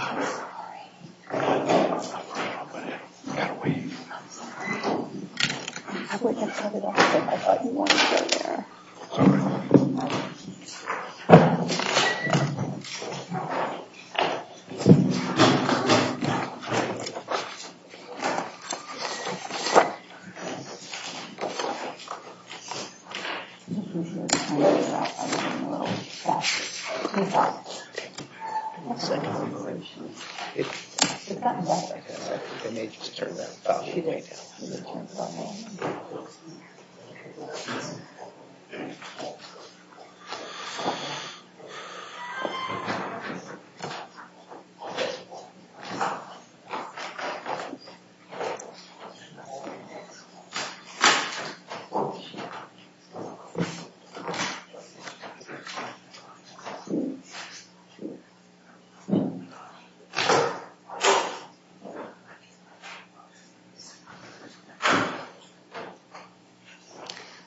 Sorry. I'm sorry. We got to wait. I'm sorry. I would have said it also if I thought you wanted to go there. Sorry. I'm a little faster. You thought. You seconded the motion. It seemed like I may just turn that pressure right now. It's OK.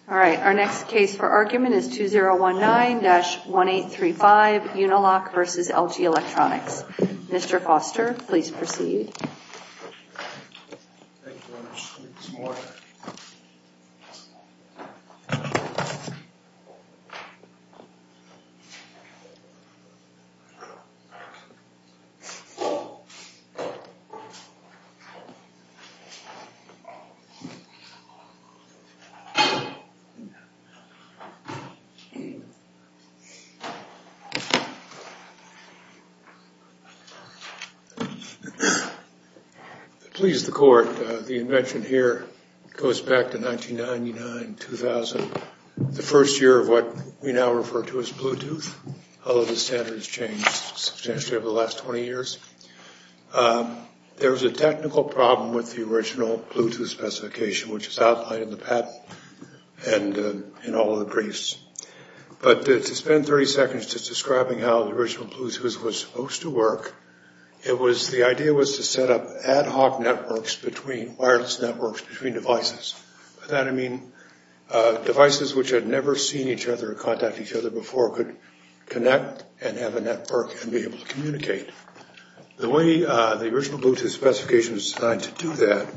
All right. Our next case for argument is 2019-1835, Unilock versus LG Electronics. Mr. Foster, please proceed. Thank you very much. I need some water. Please, the court, the invention here goes back to 1999-2000, the first year of what we now refer to as Bluetooth, although the standards changed substantially over the last 20 years. There was a technical problem with the original Bluetooth specification, which is outlined in the patent and in all of the briefs. But to spend 30 seconds just describing how the original Bluetooth was supposed to work, the idea was to set up ad hoc networks between wireless networks between devices. By that, I mean devices which had never seen each other or contacted each other before could connect and have a network and be able to communicate. The way the original Bluetooth specification was designed to do that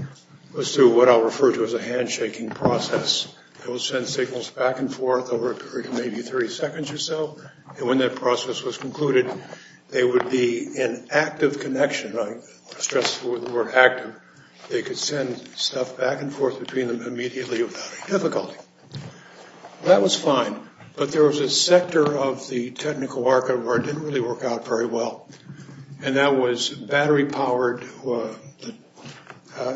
was through what I'll refer to as a handshaking process. It will send signals back and forth over a period of maybe 30 seconds or so, and when that process was concluded, they would be in active connection. I stress the word active. That was fine, but there was a sector of the technical market where it didn't really work out very well, and that was battery-powered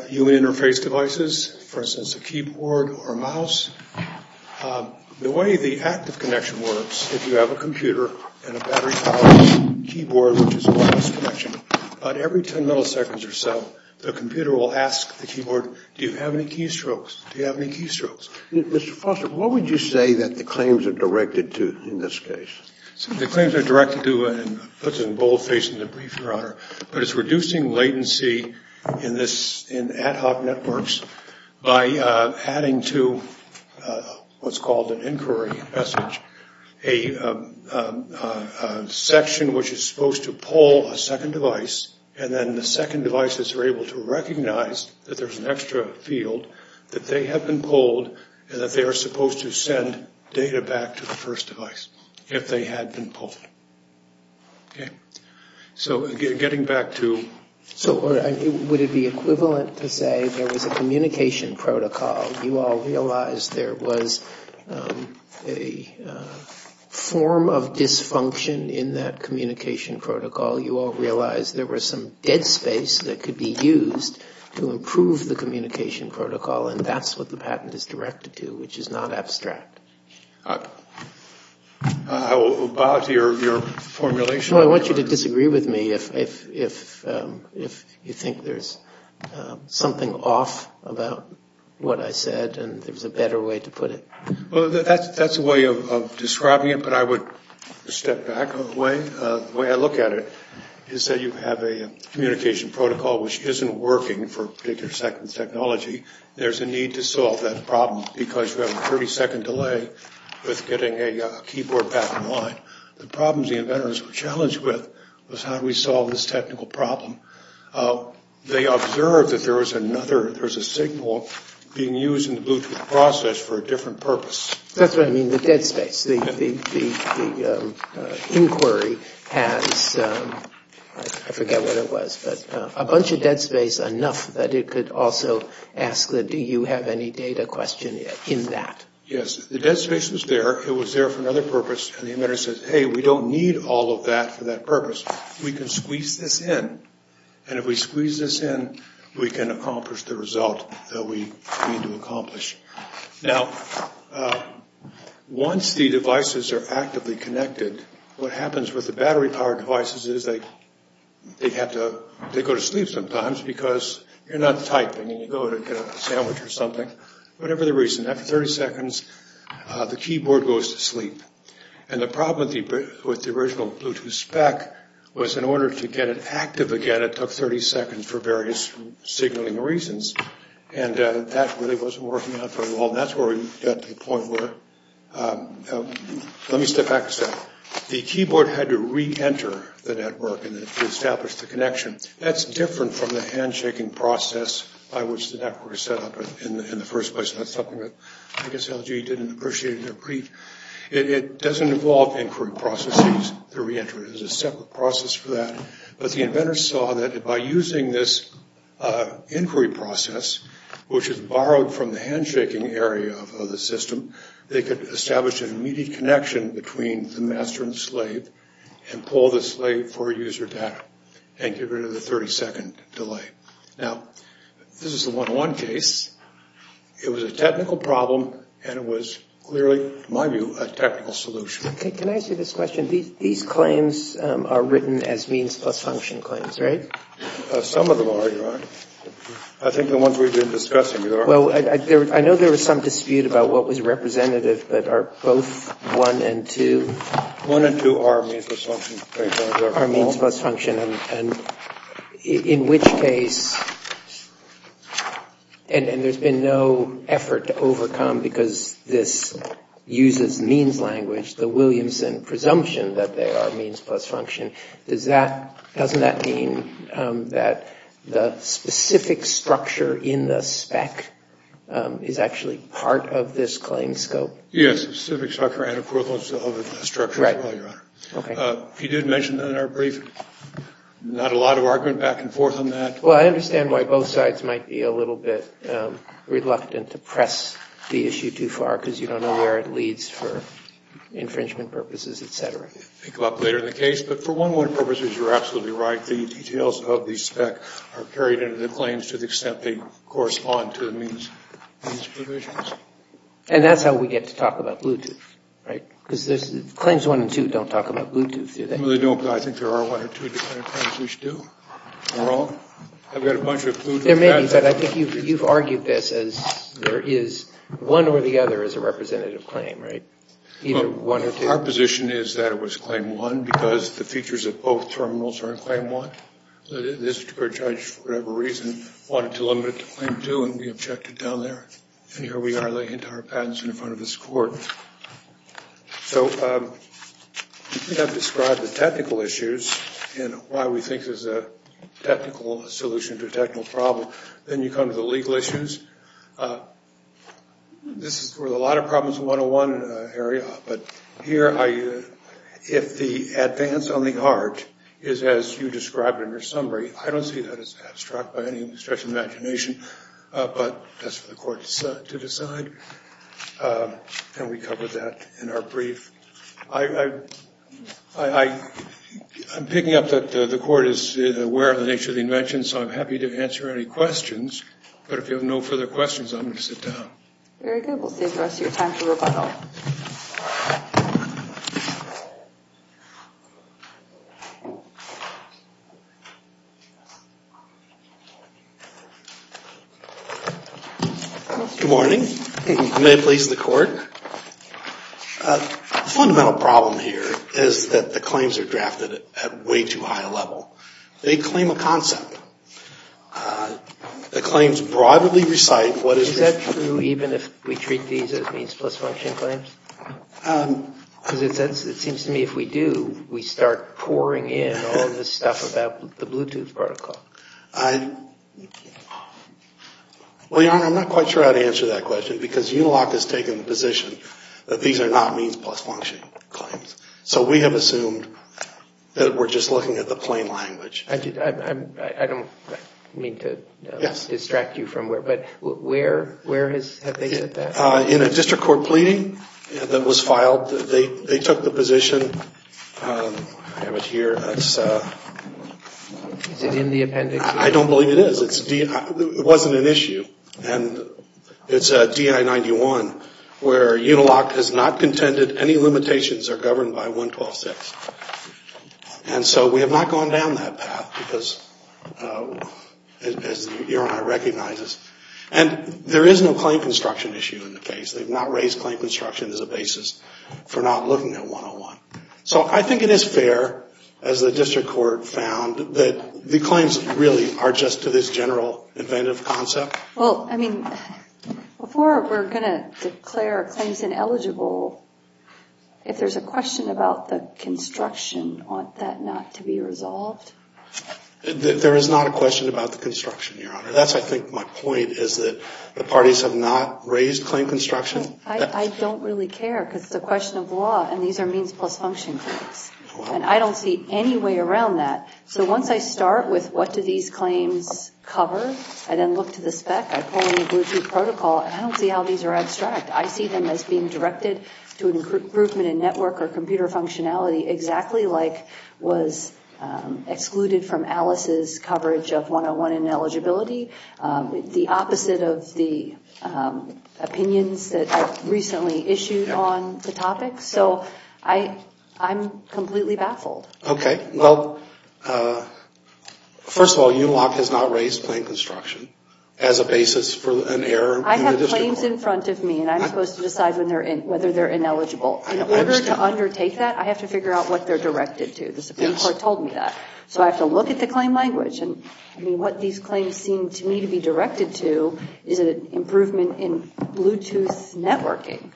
human interface devices, for instance, a keyboard or a mouse. The way the active connection works, if you have a computer and a battery-powered keyboard, which is a wireless connection, about every 10 milliseconds or so, the computer will ask the keyboard, do you have any keystrokes? Do you have any keystrokes? Mr. Foster, what would you say that the claims are directed to in this case? The claims are directed to, and I'll put it in boldface in the brief, Your Honor, but it's reducing latency in ad hoc networks by adding to what's called an inquiry message, a section which is supposed to pull a second device, and then the second device is able to recognize that there's an extra field, that they have been pulled, and that they are supposed to send data back to the first device if they had been pulled. So getting back to... So would it be equivalent to say there was a communication protocol, you all realized there was a form of dysfunction in that communication protocol, you all realized there was some head space that could be used to improve the communication protocol, and that's what the patent is directed to, which is not abstract. I will bow to your formulation. Well, I want you to disagree with me if you think there's something off about what I said and there's a better way to put it. Well, that's a way of describing it, but I would step back a way. The way I look at it is that you have a communication protocol which isn't working for a particular second technology, there's a need to solve that problem because you have a 30-second delay with getting a keyboard back in line. The problems the inventors were challenged with was how do we solve this technical problem? They observed that there was another, there was a signal being used in the Bluetooth process for a different purpose. That's what I mean, the dead space, the inquiry has, I forget what it was, but a bunch of dead space enough that it could also ask that do you have any data question in that? Yes, the dead space was there, it was there for another purpose, and the inventor says, hey, we don't need all of that for that purpose, we can squeeze this in, and if we squeeze this in, we can accomplish the result that we need to accomplish. Now, once the devices are actively connected, what happens with the battery-powered devices is they have to, they go to sleep sometimes because you're not typing and you go to get a sandwich or something, whatever the reason, after 30 seconds, the keyboard goes to sleep. And the problem with the original Bluetooth spec was in order to get it active again it took 30 seconds for various signaling reasons, and that really wasn't working out very well, and that's where we got to the point where, let me step back a second. The keyboard had to re-enter the network in order to establish the connection. That's different from the handshaking process by which the network was set up in the first place, and that's something that I guess LG didn't appreciate in their pre. It doesn't involve inquiry processes, the re-enter is a separate process for that, but the inventors saw that by using this inquiry process, which is borrowed from the handshaking area of the system, they could establish an immediate connection between the master and slave and pull the slave for user data and get rid of the 30-second delay. Now, this is a one-to-one case. It was a technical problem and it was clearly, in my view, a technical solution. Okay, can I ask you this question? These claims are written as means plus function claims, right? Some of them are, Your Honor. I think the ones we've been discussing are. Well, I know there was some dispute about what was representative, but are both 1 and 2? 1 and 2 are means plus function claims. Are means plus function, and in which case, and there's been no effort to overcome because this uses means language, the Williamson presumption that they are means plus function. Does that, doesn't that mean that the specific structure in the spec is actually part of this claim scope? Yes, the specific structure and the equivalence of the structure as well, Your Honor. You did mention that in our brief, not a lot of argument back and forth on that. Well, I understand why both sides might be a little bit reluctant to press the issue too far because you don't know where it leads for infringement purposes, et cetera. Think about later in the case, but for one-to-one purposes, you're absolutely right. The details of the spec are carried into the claims to the extent they correspond to the means provisions. And that's how we get to talk about Bluetooth, right? Because claims 1 and 2 don't talk about Bluetooth, do they? Well, they don't, but I think there are one or two different claims we should do. We're all, I've got a bunch of clues. There may be, but I think you've argued this as there is one or the other is a representative claim, right? Either one or two. Our position is that it was claim 1 because the features of both terminals are in claim 1. This particular judge, for whatever reason, wanted to limit it to claim 2, and we objected down there. And here we are laying into our patents in front of this Court. So we have described the technical issues and why we think there's a technical solution to a technical problem. Then you come to the legal issues. This is where a lot of problems in the one-to-one area, but here, if the advance on the art is as you described in your summary, I don't see that as abstract by any stretch of the imagination, but that's for the Court to decide. And we covered that in our brief. I'm picking up that the Court is aware of the nature of the invention, so I'm happy to answer any questions, but if you have no further questions, I'm going to sit down. Very good. We'll save the rest of your time for rebuttal. Good morning. May it please the Court? The fundamental problem here is that the claims are drafted at way too high a level. They claim a concept. The claims broadly recite what is... Because it seems to me if we do, we start pouring in all this stuff about the Bluetooth protocol. Well, Your Honor, I'm not quite sure how to answer that question because Uniloc has taken the position that these are not means plus function claims. So we have assumed that we're just looking at the plain language. I don't mean to distract you from where, but where have they said that? In a district court pleading that was filed, they took the position. I have it here. Is it in the appendix? I don't believe it is. It wasn't an issue. And it's DI-91 where Uniloc has not contended any limitations are governed by 112-6. And so we have not gone down that path because, as Your Honor recognizes, and there is no claim construction issue in the case. They've not raised claim construction as a basis for not looking at 101. So I think it is fair, as the district court found, that the claims really are just to this general inventive concept. Well, I mean, before we're going to declare claims ineligible, if there's a question about the construction, ought that not to be resolved? There is not a question about the construction, Your Honor. That's, I think, my point is that the parties have not raised claim construction. I don't really care because it's a question of law, and these are means plus function claims. And I don't see any way around that. So once I start with what do these claims cover, I then look to the spec. I pull in a Bluetooth protocol, and I don't see how these are abstract. I see them as being directed to an improvement in network or computer functionality, exactly like was excluded from Alice's coverage of 101 ineligibility, the opposite of the opinions that I've recently issued on the topic. So I'm completely baffled. Okay. Well, first of all, ULOC has not raised claim construction as a basis for an error in the district court. I have claims in front of me, and I'm supposed to decide whether they're ineligible. In order to undertake that, I have to figure out what they're directed to. The Supreme Court told me that. So I have to look at the claim language. And, I mean, what these claims seem to me to be directed to is an improvement in Bluetooth networking.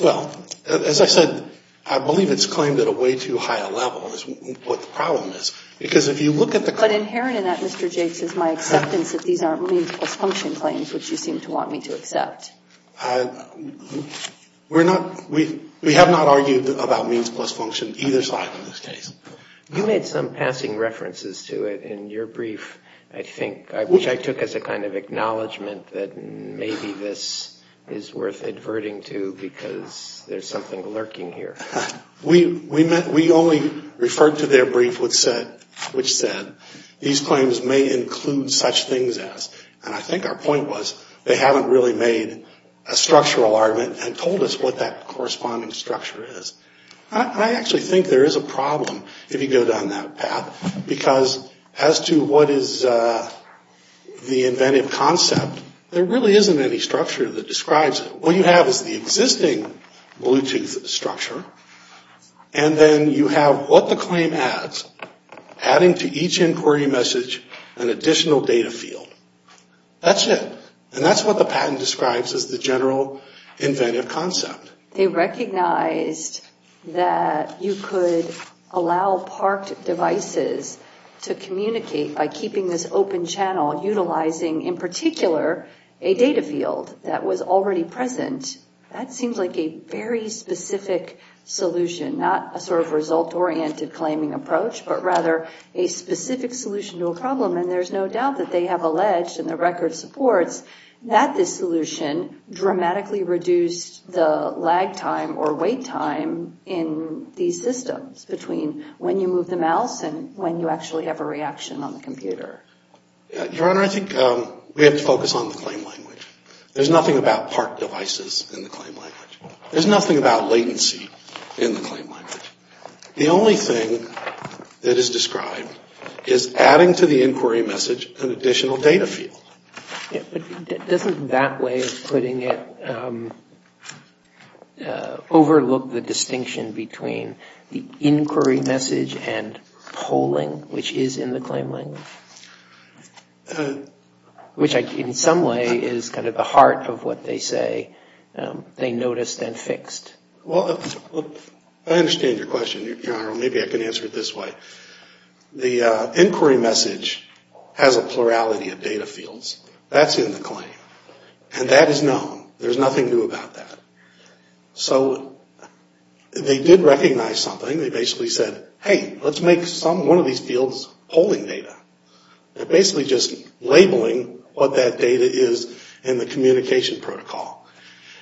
Well, as I said, I believe it's claimed at a way too high a level is what the problem is, because if you look at the claim But inherent in that, Mr. Jakes, is my acceptance that these aren't means plus function claims, which you seem to want me to accept. We have not argued about means plus function either side in this case. You made some passing references to it in your brief, I think, which I took as a kind of acknowledgment that maybe this is worth adverting to, because there's something lurking here. We only referred to their brief which said, these claims may include such things as, And I think our point was, they haven't really made a structural argument and told us what that corresponding structure is. I actually think there is a problem if you go down that path, because as to what is the inventive concept, there really isn't any structure that describes it. What you have is the existing Bluetooth structure, and then you have what the claim adds, adding to each inquiry message an additional data field. That's it. And that's what the patent describes as the general inventive concept. They recognized that you could allow parked devices to communicate by keeping this open channel, utilizing in particular a data field that was already present. That seems like a very specific solution, not a sort of result-oriented claiming approach, but rather a specific solution to a problem. And there's no doubt that they have alleged, and the record supports, that this solution dramatically reduced the lag time or wait time in these systems, between when you move the mouse and when you actually have a reaction on the computer. Your Honor, I think we have to focus on the claim language. There's nothing about parked devices in the claim language. There's nothing about latency in the claim language. The only thing that is described is adding to the inquiry message an additional data field. Doesn't that way of putting it overlook the distinction between the inquiry message and polling, which is in the claim language? Which in some way is kind of the heart of what they say they noticed and fixed. Well, I understand your question, Your Honor. Maybe I can answer it this way. The inquiry message has a plurality of data fields. That's in the claim. And that is known. There's nothing new about that. So they did recognize something. They basically said, hey, let's make one of these fields polling data. They're basically just labeling what that data is in the communication protocol.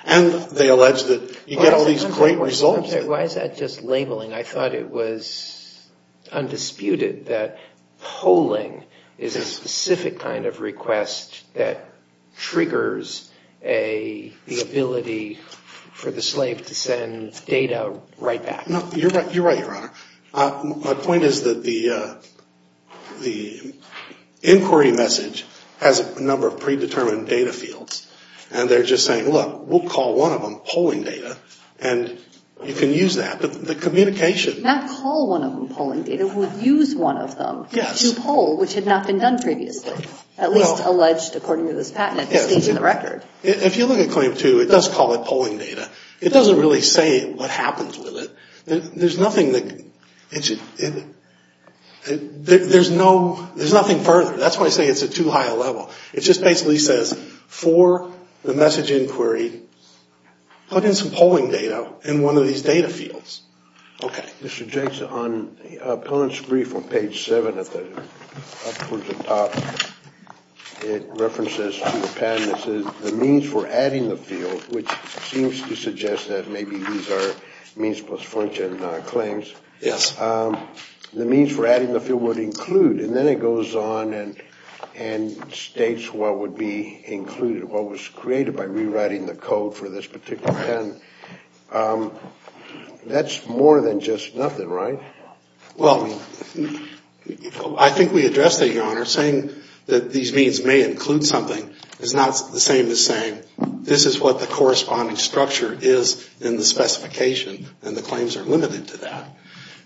And they allege that you get all these great results. Why is that just labeling? I thought it was undisputed that polling is a specific kind of request that triggers the ability for the slave to send data right back. You're right, Your Honor. My point is that the inquiry message has a number of predetermined data fields. And they're just saying, look, we'll call one of them polling data. And you can use that. But the communication. Not call one of them polling data. We'll use one of them to poll, which had not been done previously. At least alleged according to this patent. It stays in the record. If you look at claim two, it does call it polling data. It doesn't really say what happens with it. There's nothing further. That's why I say it's at too high a level. It just basically says for the message inquiry, put in some polling data in one of these data fields. Okay. Mr. Jakeson, on the opponent's brief on page seven at the top, it references to the patent. It says the means for adding the field, which seems to suggest that maybe these are means plus function claims. Yes. The means for adding the field would include. And then it goes on and states what would be included, what was created by rewriting the code for this particular patent. That's more than just nothing, right? Well, I think we addressed that, Your Honor. Saying that these means may include something is not the same as saying this is what the corresponding structure is in the specification. And the claims are limited to that.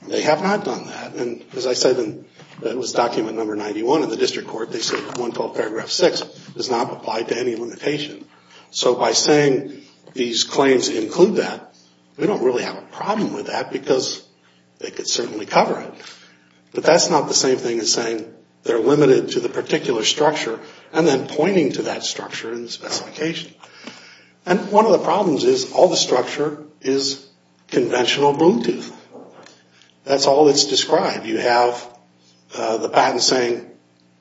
They have not done that. And as I said, that was document number 91 in the district court. They said 112 paragraph 6 does not apply to any limitation. So by saying these claims include that, we don't really have a problem with that because they could certainly cover it. But that's not the same thing as saying they're limited to the particular structure and then pointing to that structure in the specification. And one of the problems is all the structure is conventional Bluetooth. That's all that's described. You have the patent saying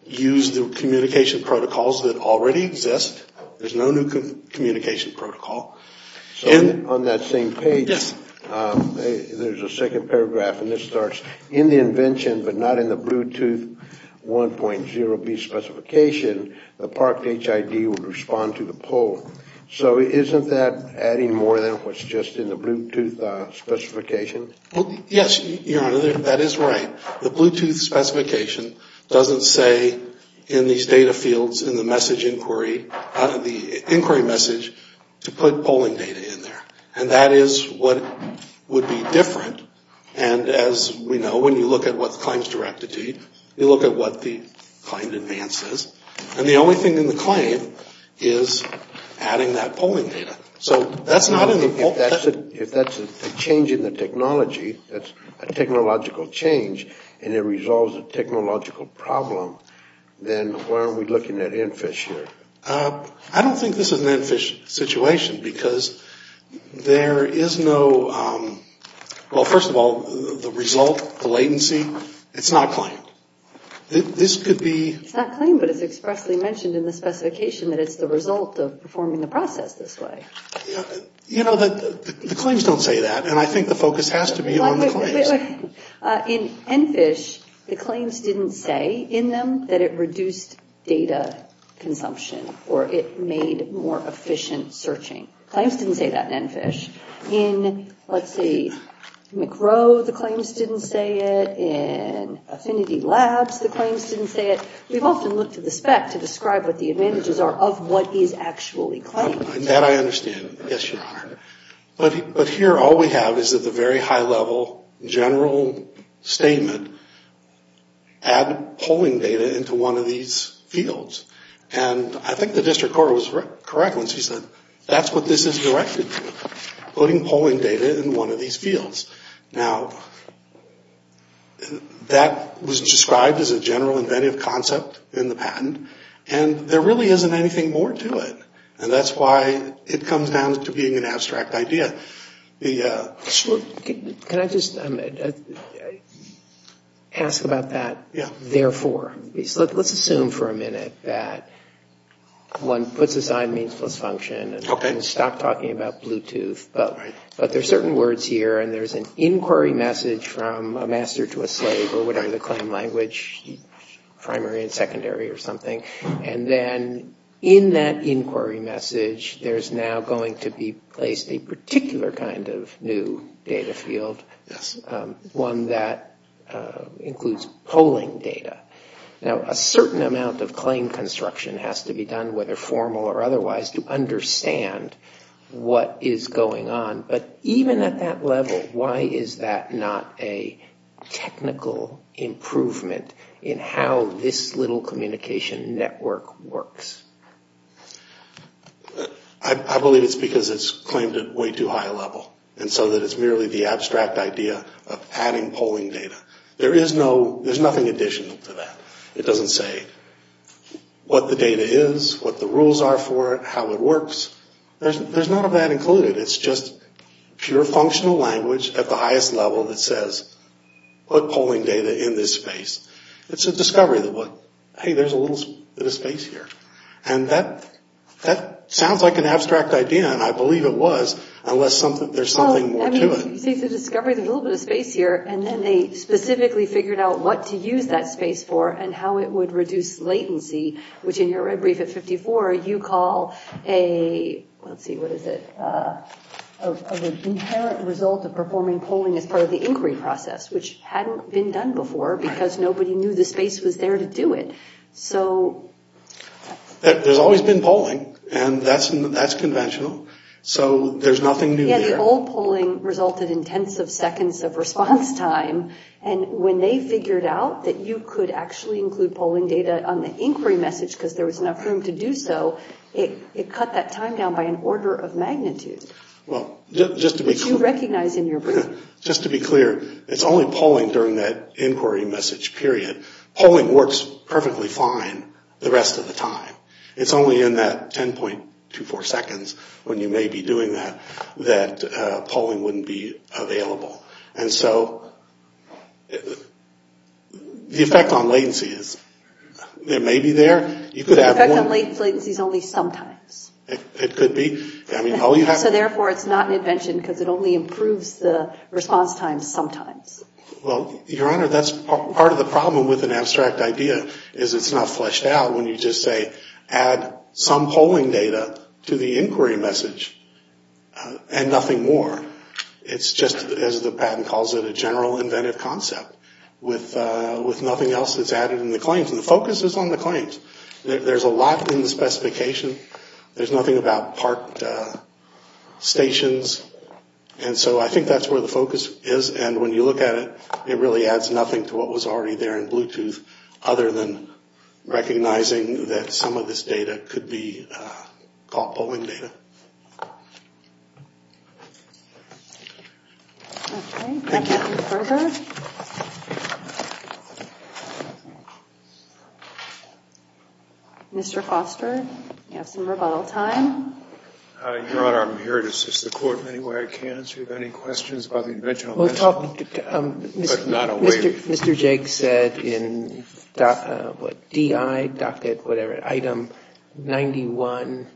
use the communication protocols that already exist. There's no new communication protocol. On that same page, there's a second paragraph, and this starts, in the invention but not in the Bluetooth 1.0b specification, the Park HID would respond to the pull. So isn't that adding more than what's just in the Bluetooth specification? Yes, Your Honor, that is right. The Bluetooth specification doesn't say in these data fields in the message inquiry, the inquiry message, to put polling data in there. And that is what would be different. And as we know, when you look at what the claim is directed to, you look at what the claim advances. And the only thing in the claim is adding that polling data. So that's not in the poll. If that's a change in the technology, that's a technological change, and it resolves a technological problem, then why aren't we looking at ENFISH here? I don't think this is an ENFISH situation because there is no, well, first of all, the result, the latency, it's not claimed. This could be... It's not claimed, but it's expressly mentioned in the specification that it's the result of performing the process this way. You know, the claims don't say that, and I think the focus has to be on the claims. In ENFISH, the claims didn't say in them that it reduced data consumption or it made more efficient searching. Claims didn't say that in ENFISH. In, let's see, McRow, the claims didn't say it. In Affinity Labs, the claims didn't say it. We've often looked at the spec to describe what the advantages are of what is actually claimed. That I understand. Yes, Your Honor. But here all we have is at the very high level, general statement, add polling data into one of these fields. And I think the district court was correct when she said that's what this is directed to. Putting polling data in one of these fields. Now, that was described as a general inventive concept in the patent, and there really isn't anything more to it. And that's why it comes down to being an abstract idea. Can I just ask about that therefore? Let's assume for a minute that one puts aside means plus function... Okay. I'm going to stop talking about Bluetooth, but there's certain words here, and there's an inquiry message from a master to a slave or whatever the claim language, primary and secondary or something. And then in that inquiry message, there's now going to be placed a particular kind of new data field, one that includes polling data. Now, a certain amount of claim construction has to be done, whether formal or otherwise, to understand what is going on. But even at that level, why is that not a technical improvement in how this little communication network works? I believe it's because it's claimed at way too high a level. And so that it's merely the abstract idea of adding polling data. There's nothing additional to that. It doesn't say what the data is, what the rules are for it, how it works. There's none of that included. It's just pure functional language at the highest level that says, put polling data in this space. It's a discovery that, hey, there's a little bit of space here. And that sounds like an abstract idea, and I believe it was, unless there's something more to it. You say it's a discovery, there's a little bit of space here, and then they specifically figured out what to use that space for and how it would reduce latency, which in your red brief at 54, you call a, let's see, what is it, of an inherent result of performing polling as part of the inquiry process, which hadn't been done before because nobody knew the space was there to do it. There's always been polling, and that's conventional, so there's nothing new there. Yeah, the old polling resulted in tens of seconds of response time, and when they figured out that you could actually include polling data on the inquiry message because there was enough room to do so, it cut that time down by an order of magnitude. Which you recognize in your brief. Just to be clear, it's only polling during that inquiry message period. Polling works perfectly fine the rest of the time. It's only in that 10.24 seconds when you may be doing that that polling wouldn't be available. And so the effect on latency is it may be there. The effect on latency is only sometimes. It could be. So therefore it's not an invention because it only improves the response time sometimes. Well, Your Honor, that's part of the problem with an abstract idea is it's not fleshed out when you just say add some polling data to the inquiry message and nothing more. It's just, as the patent calls it, a general inventive concept with nothing else that's added in the claims, and the focus is on the claims. There's a lot in the specification. There's nothing about parked stations, and so I think that's where the focus is, and when you look at it, it really adds nothing to what was already there in Bluetooth other than recognizing that some of this data could be called polling data. Okay. Thank you. Mr. Foster, you have some rebuttal time. Your Honor, I'm here to assist the Court in any way I can. Do you have any questions about the invention? Mr. Jake said in DI, docket, whatever, item 91,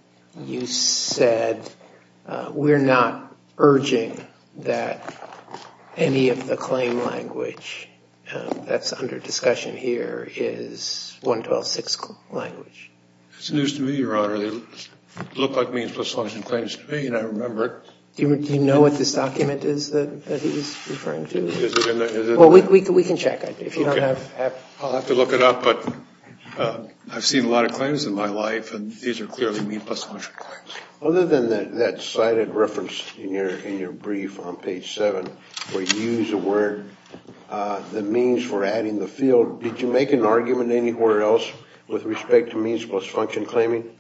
you said we're not urging that any of the claim language that's under discussion here is 112.6 language. It's news to me, Your Honor. They look like means-plus function claims to me, and I remember it. Do you know what this document is that he's referring to? Is it in there? Well, we can check if you don't have... I'll have to look it up, but I've seen a lot of claims in my life, and these are clearly means-plus function claims. Other than that cited reference in your brief on page 7 where you use the word, the means for adding the field, did you make an argument anywhere else with respect to means-plus function claiming?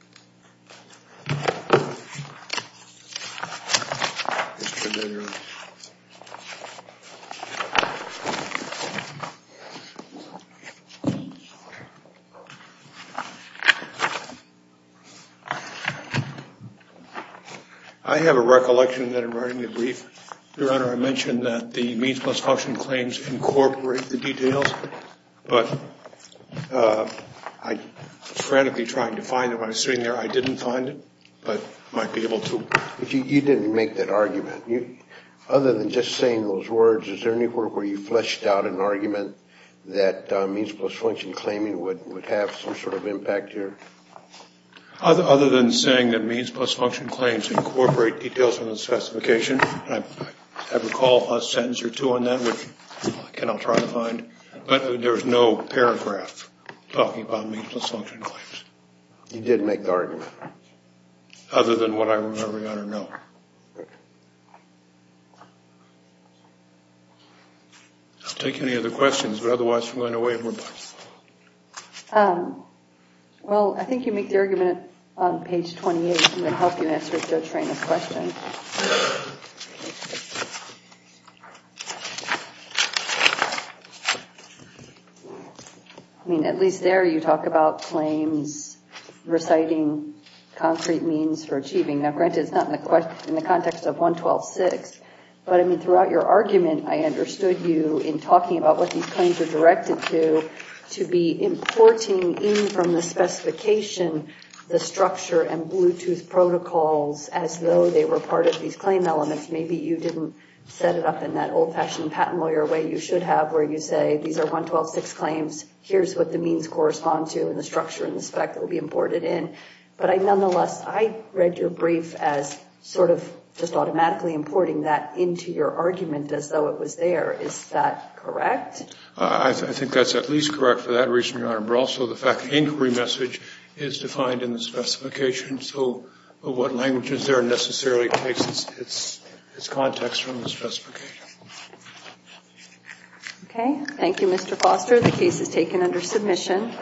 I have a recollection that in writing the brief, Your Honor, I mentioned that the means-plus function claims incorporate the details, but I was frantically trying to find it when I was sitting there. I didn't find it, but I might be able to. You didn't make that argument. Other than just saying those words, is there anywhere where you fleshed out an argument that means-plus function claiming would have some sort of impact here? Other than saying that means-plus function claims incorporate details in the specification, I recall a sentence or two on that which I cannot try to find, but there is no paragraph talking about means-plus function claims. You did make the argument. Other than what I remember, Your Honor, no. I'll take any other questions, but otherwise I'm going to waive. Well, I think you make the argument on page 28, and I'm going to help you answer Judge Reina's question. I mean, at least there you talk about claims reciting concrete means for achieving. Now, granted, it's not in the context of 112.6, but, I mean, throughout your argument, I understood you in talking about what these claims are directed to, to be importing in from the specification the structure and Bluetooth protocols as though they were part of these claim elements. Maybe you didn't set it up in that old-fashioned patent lawyer way you should have, where you say these are 112.6 claims, here's what the means correspond to and the structure and the spec that will be imported in. But, nonetheless, I read your brief as sort of just automatically importing that into your argument as though it was there. Is that correct? I think that's at least correct for that reason, Your Honor, but also the fact that the inquiry message is defined in the specification, so what language is there necessarily takes its context from the specification. Okay. Thank you, Mr. Foster. The case is taken under submission.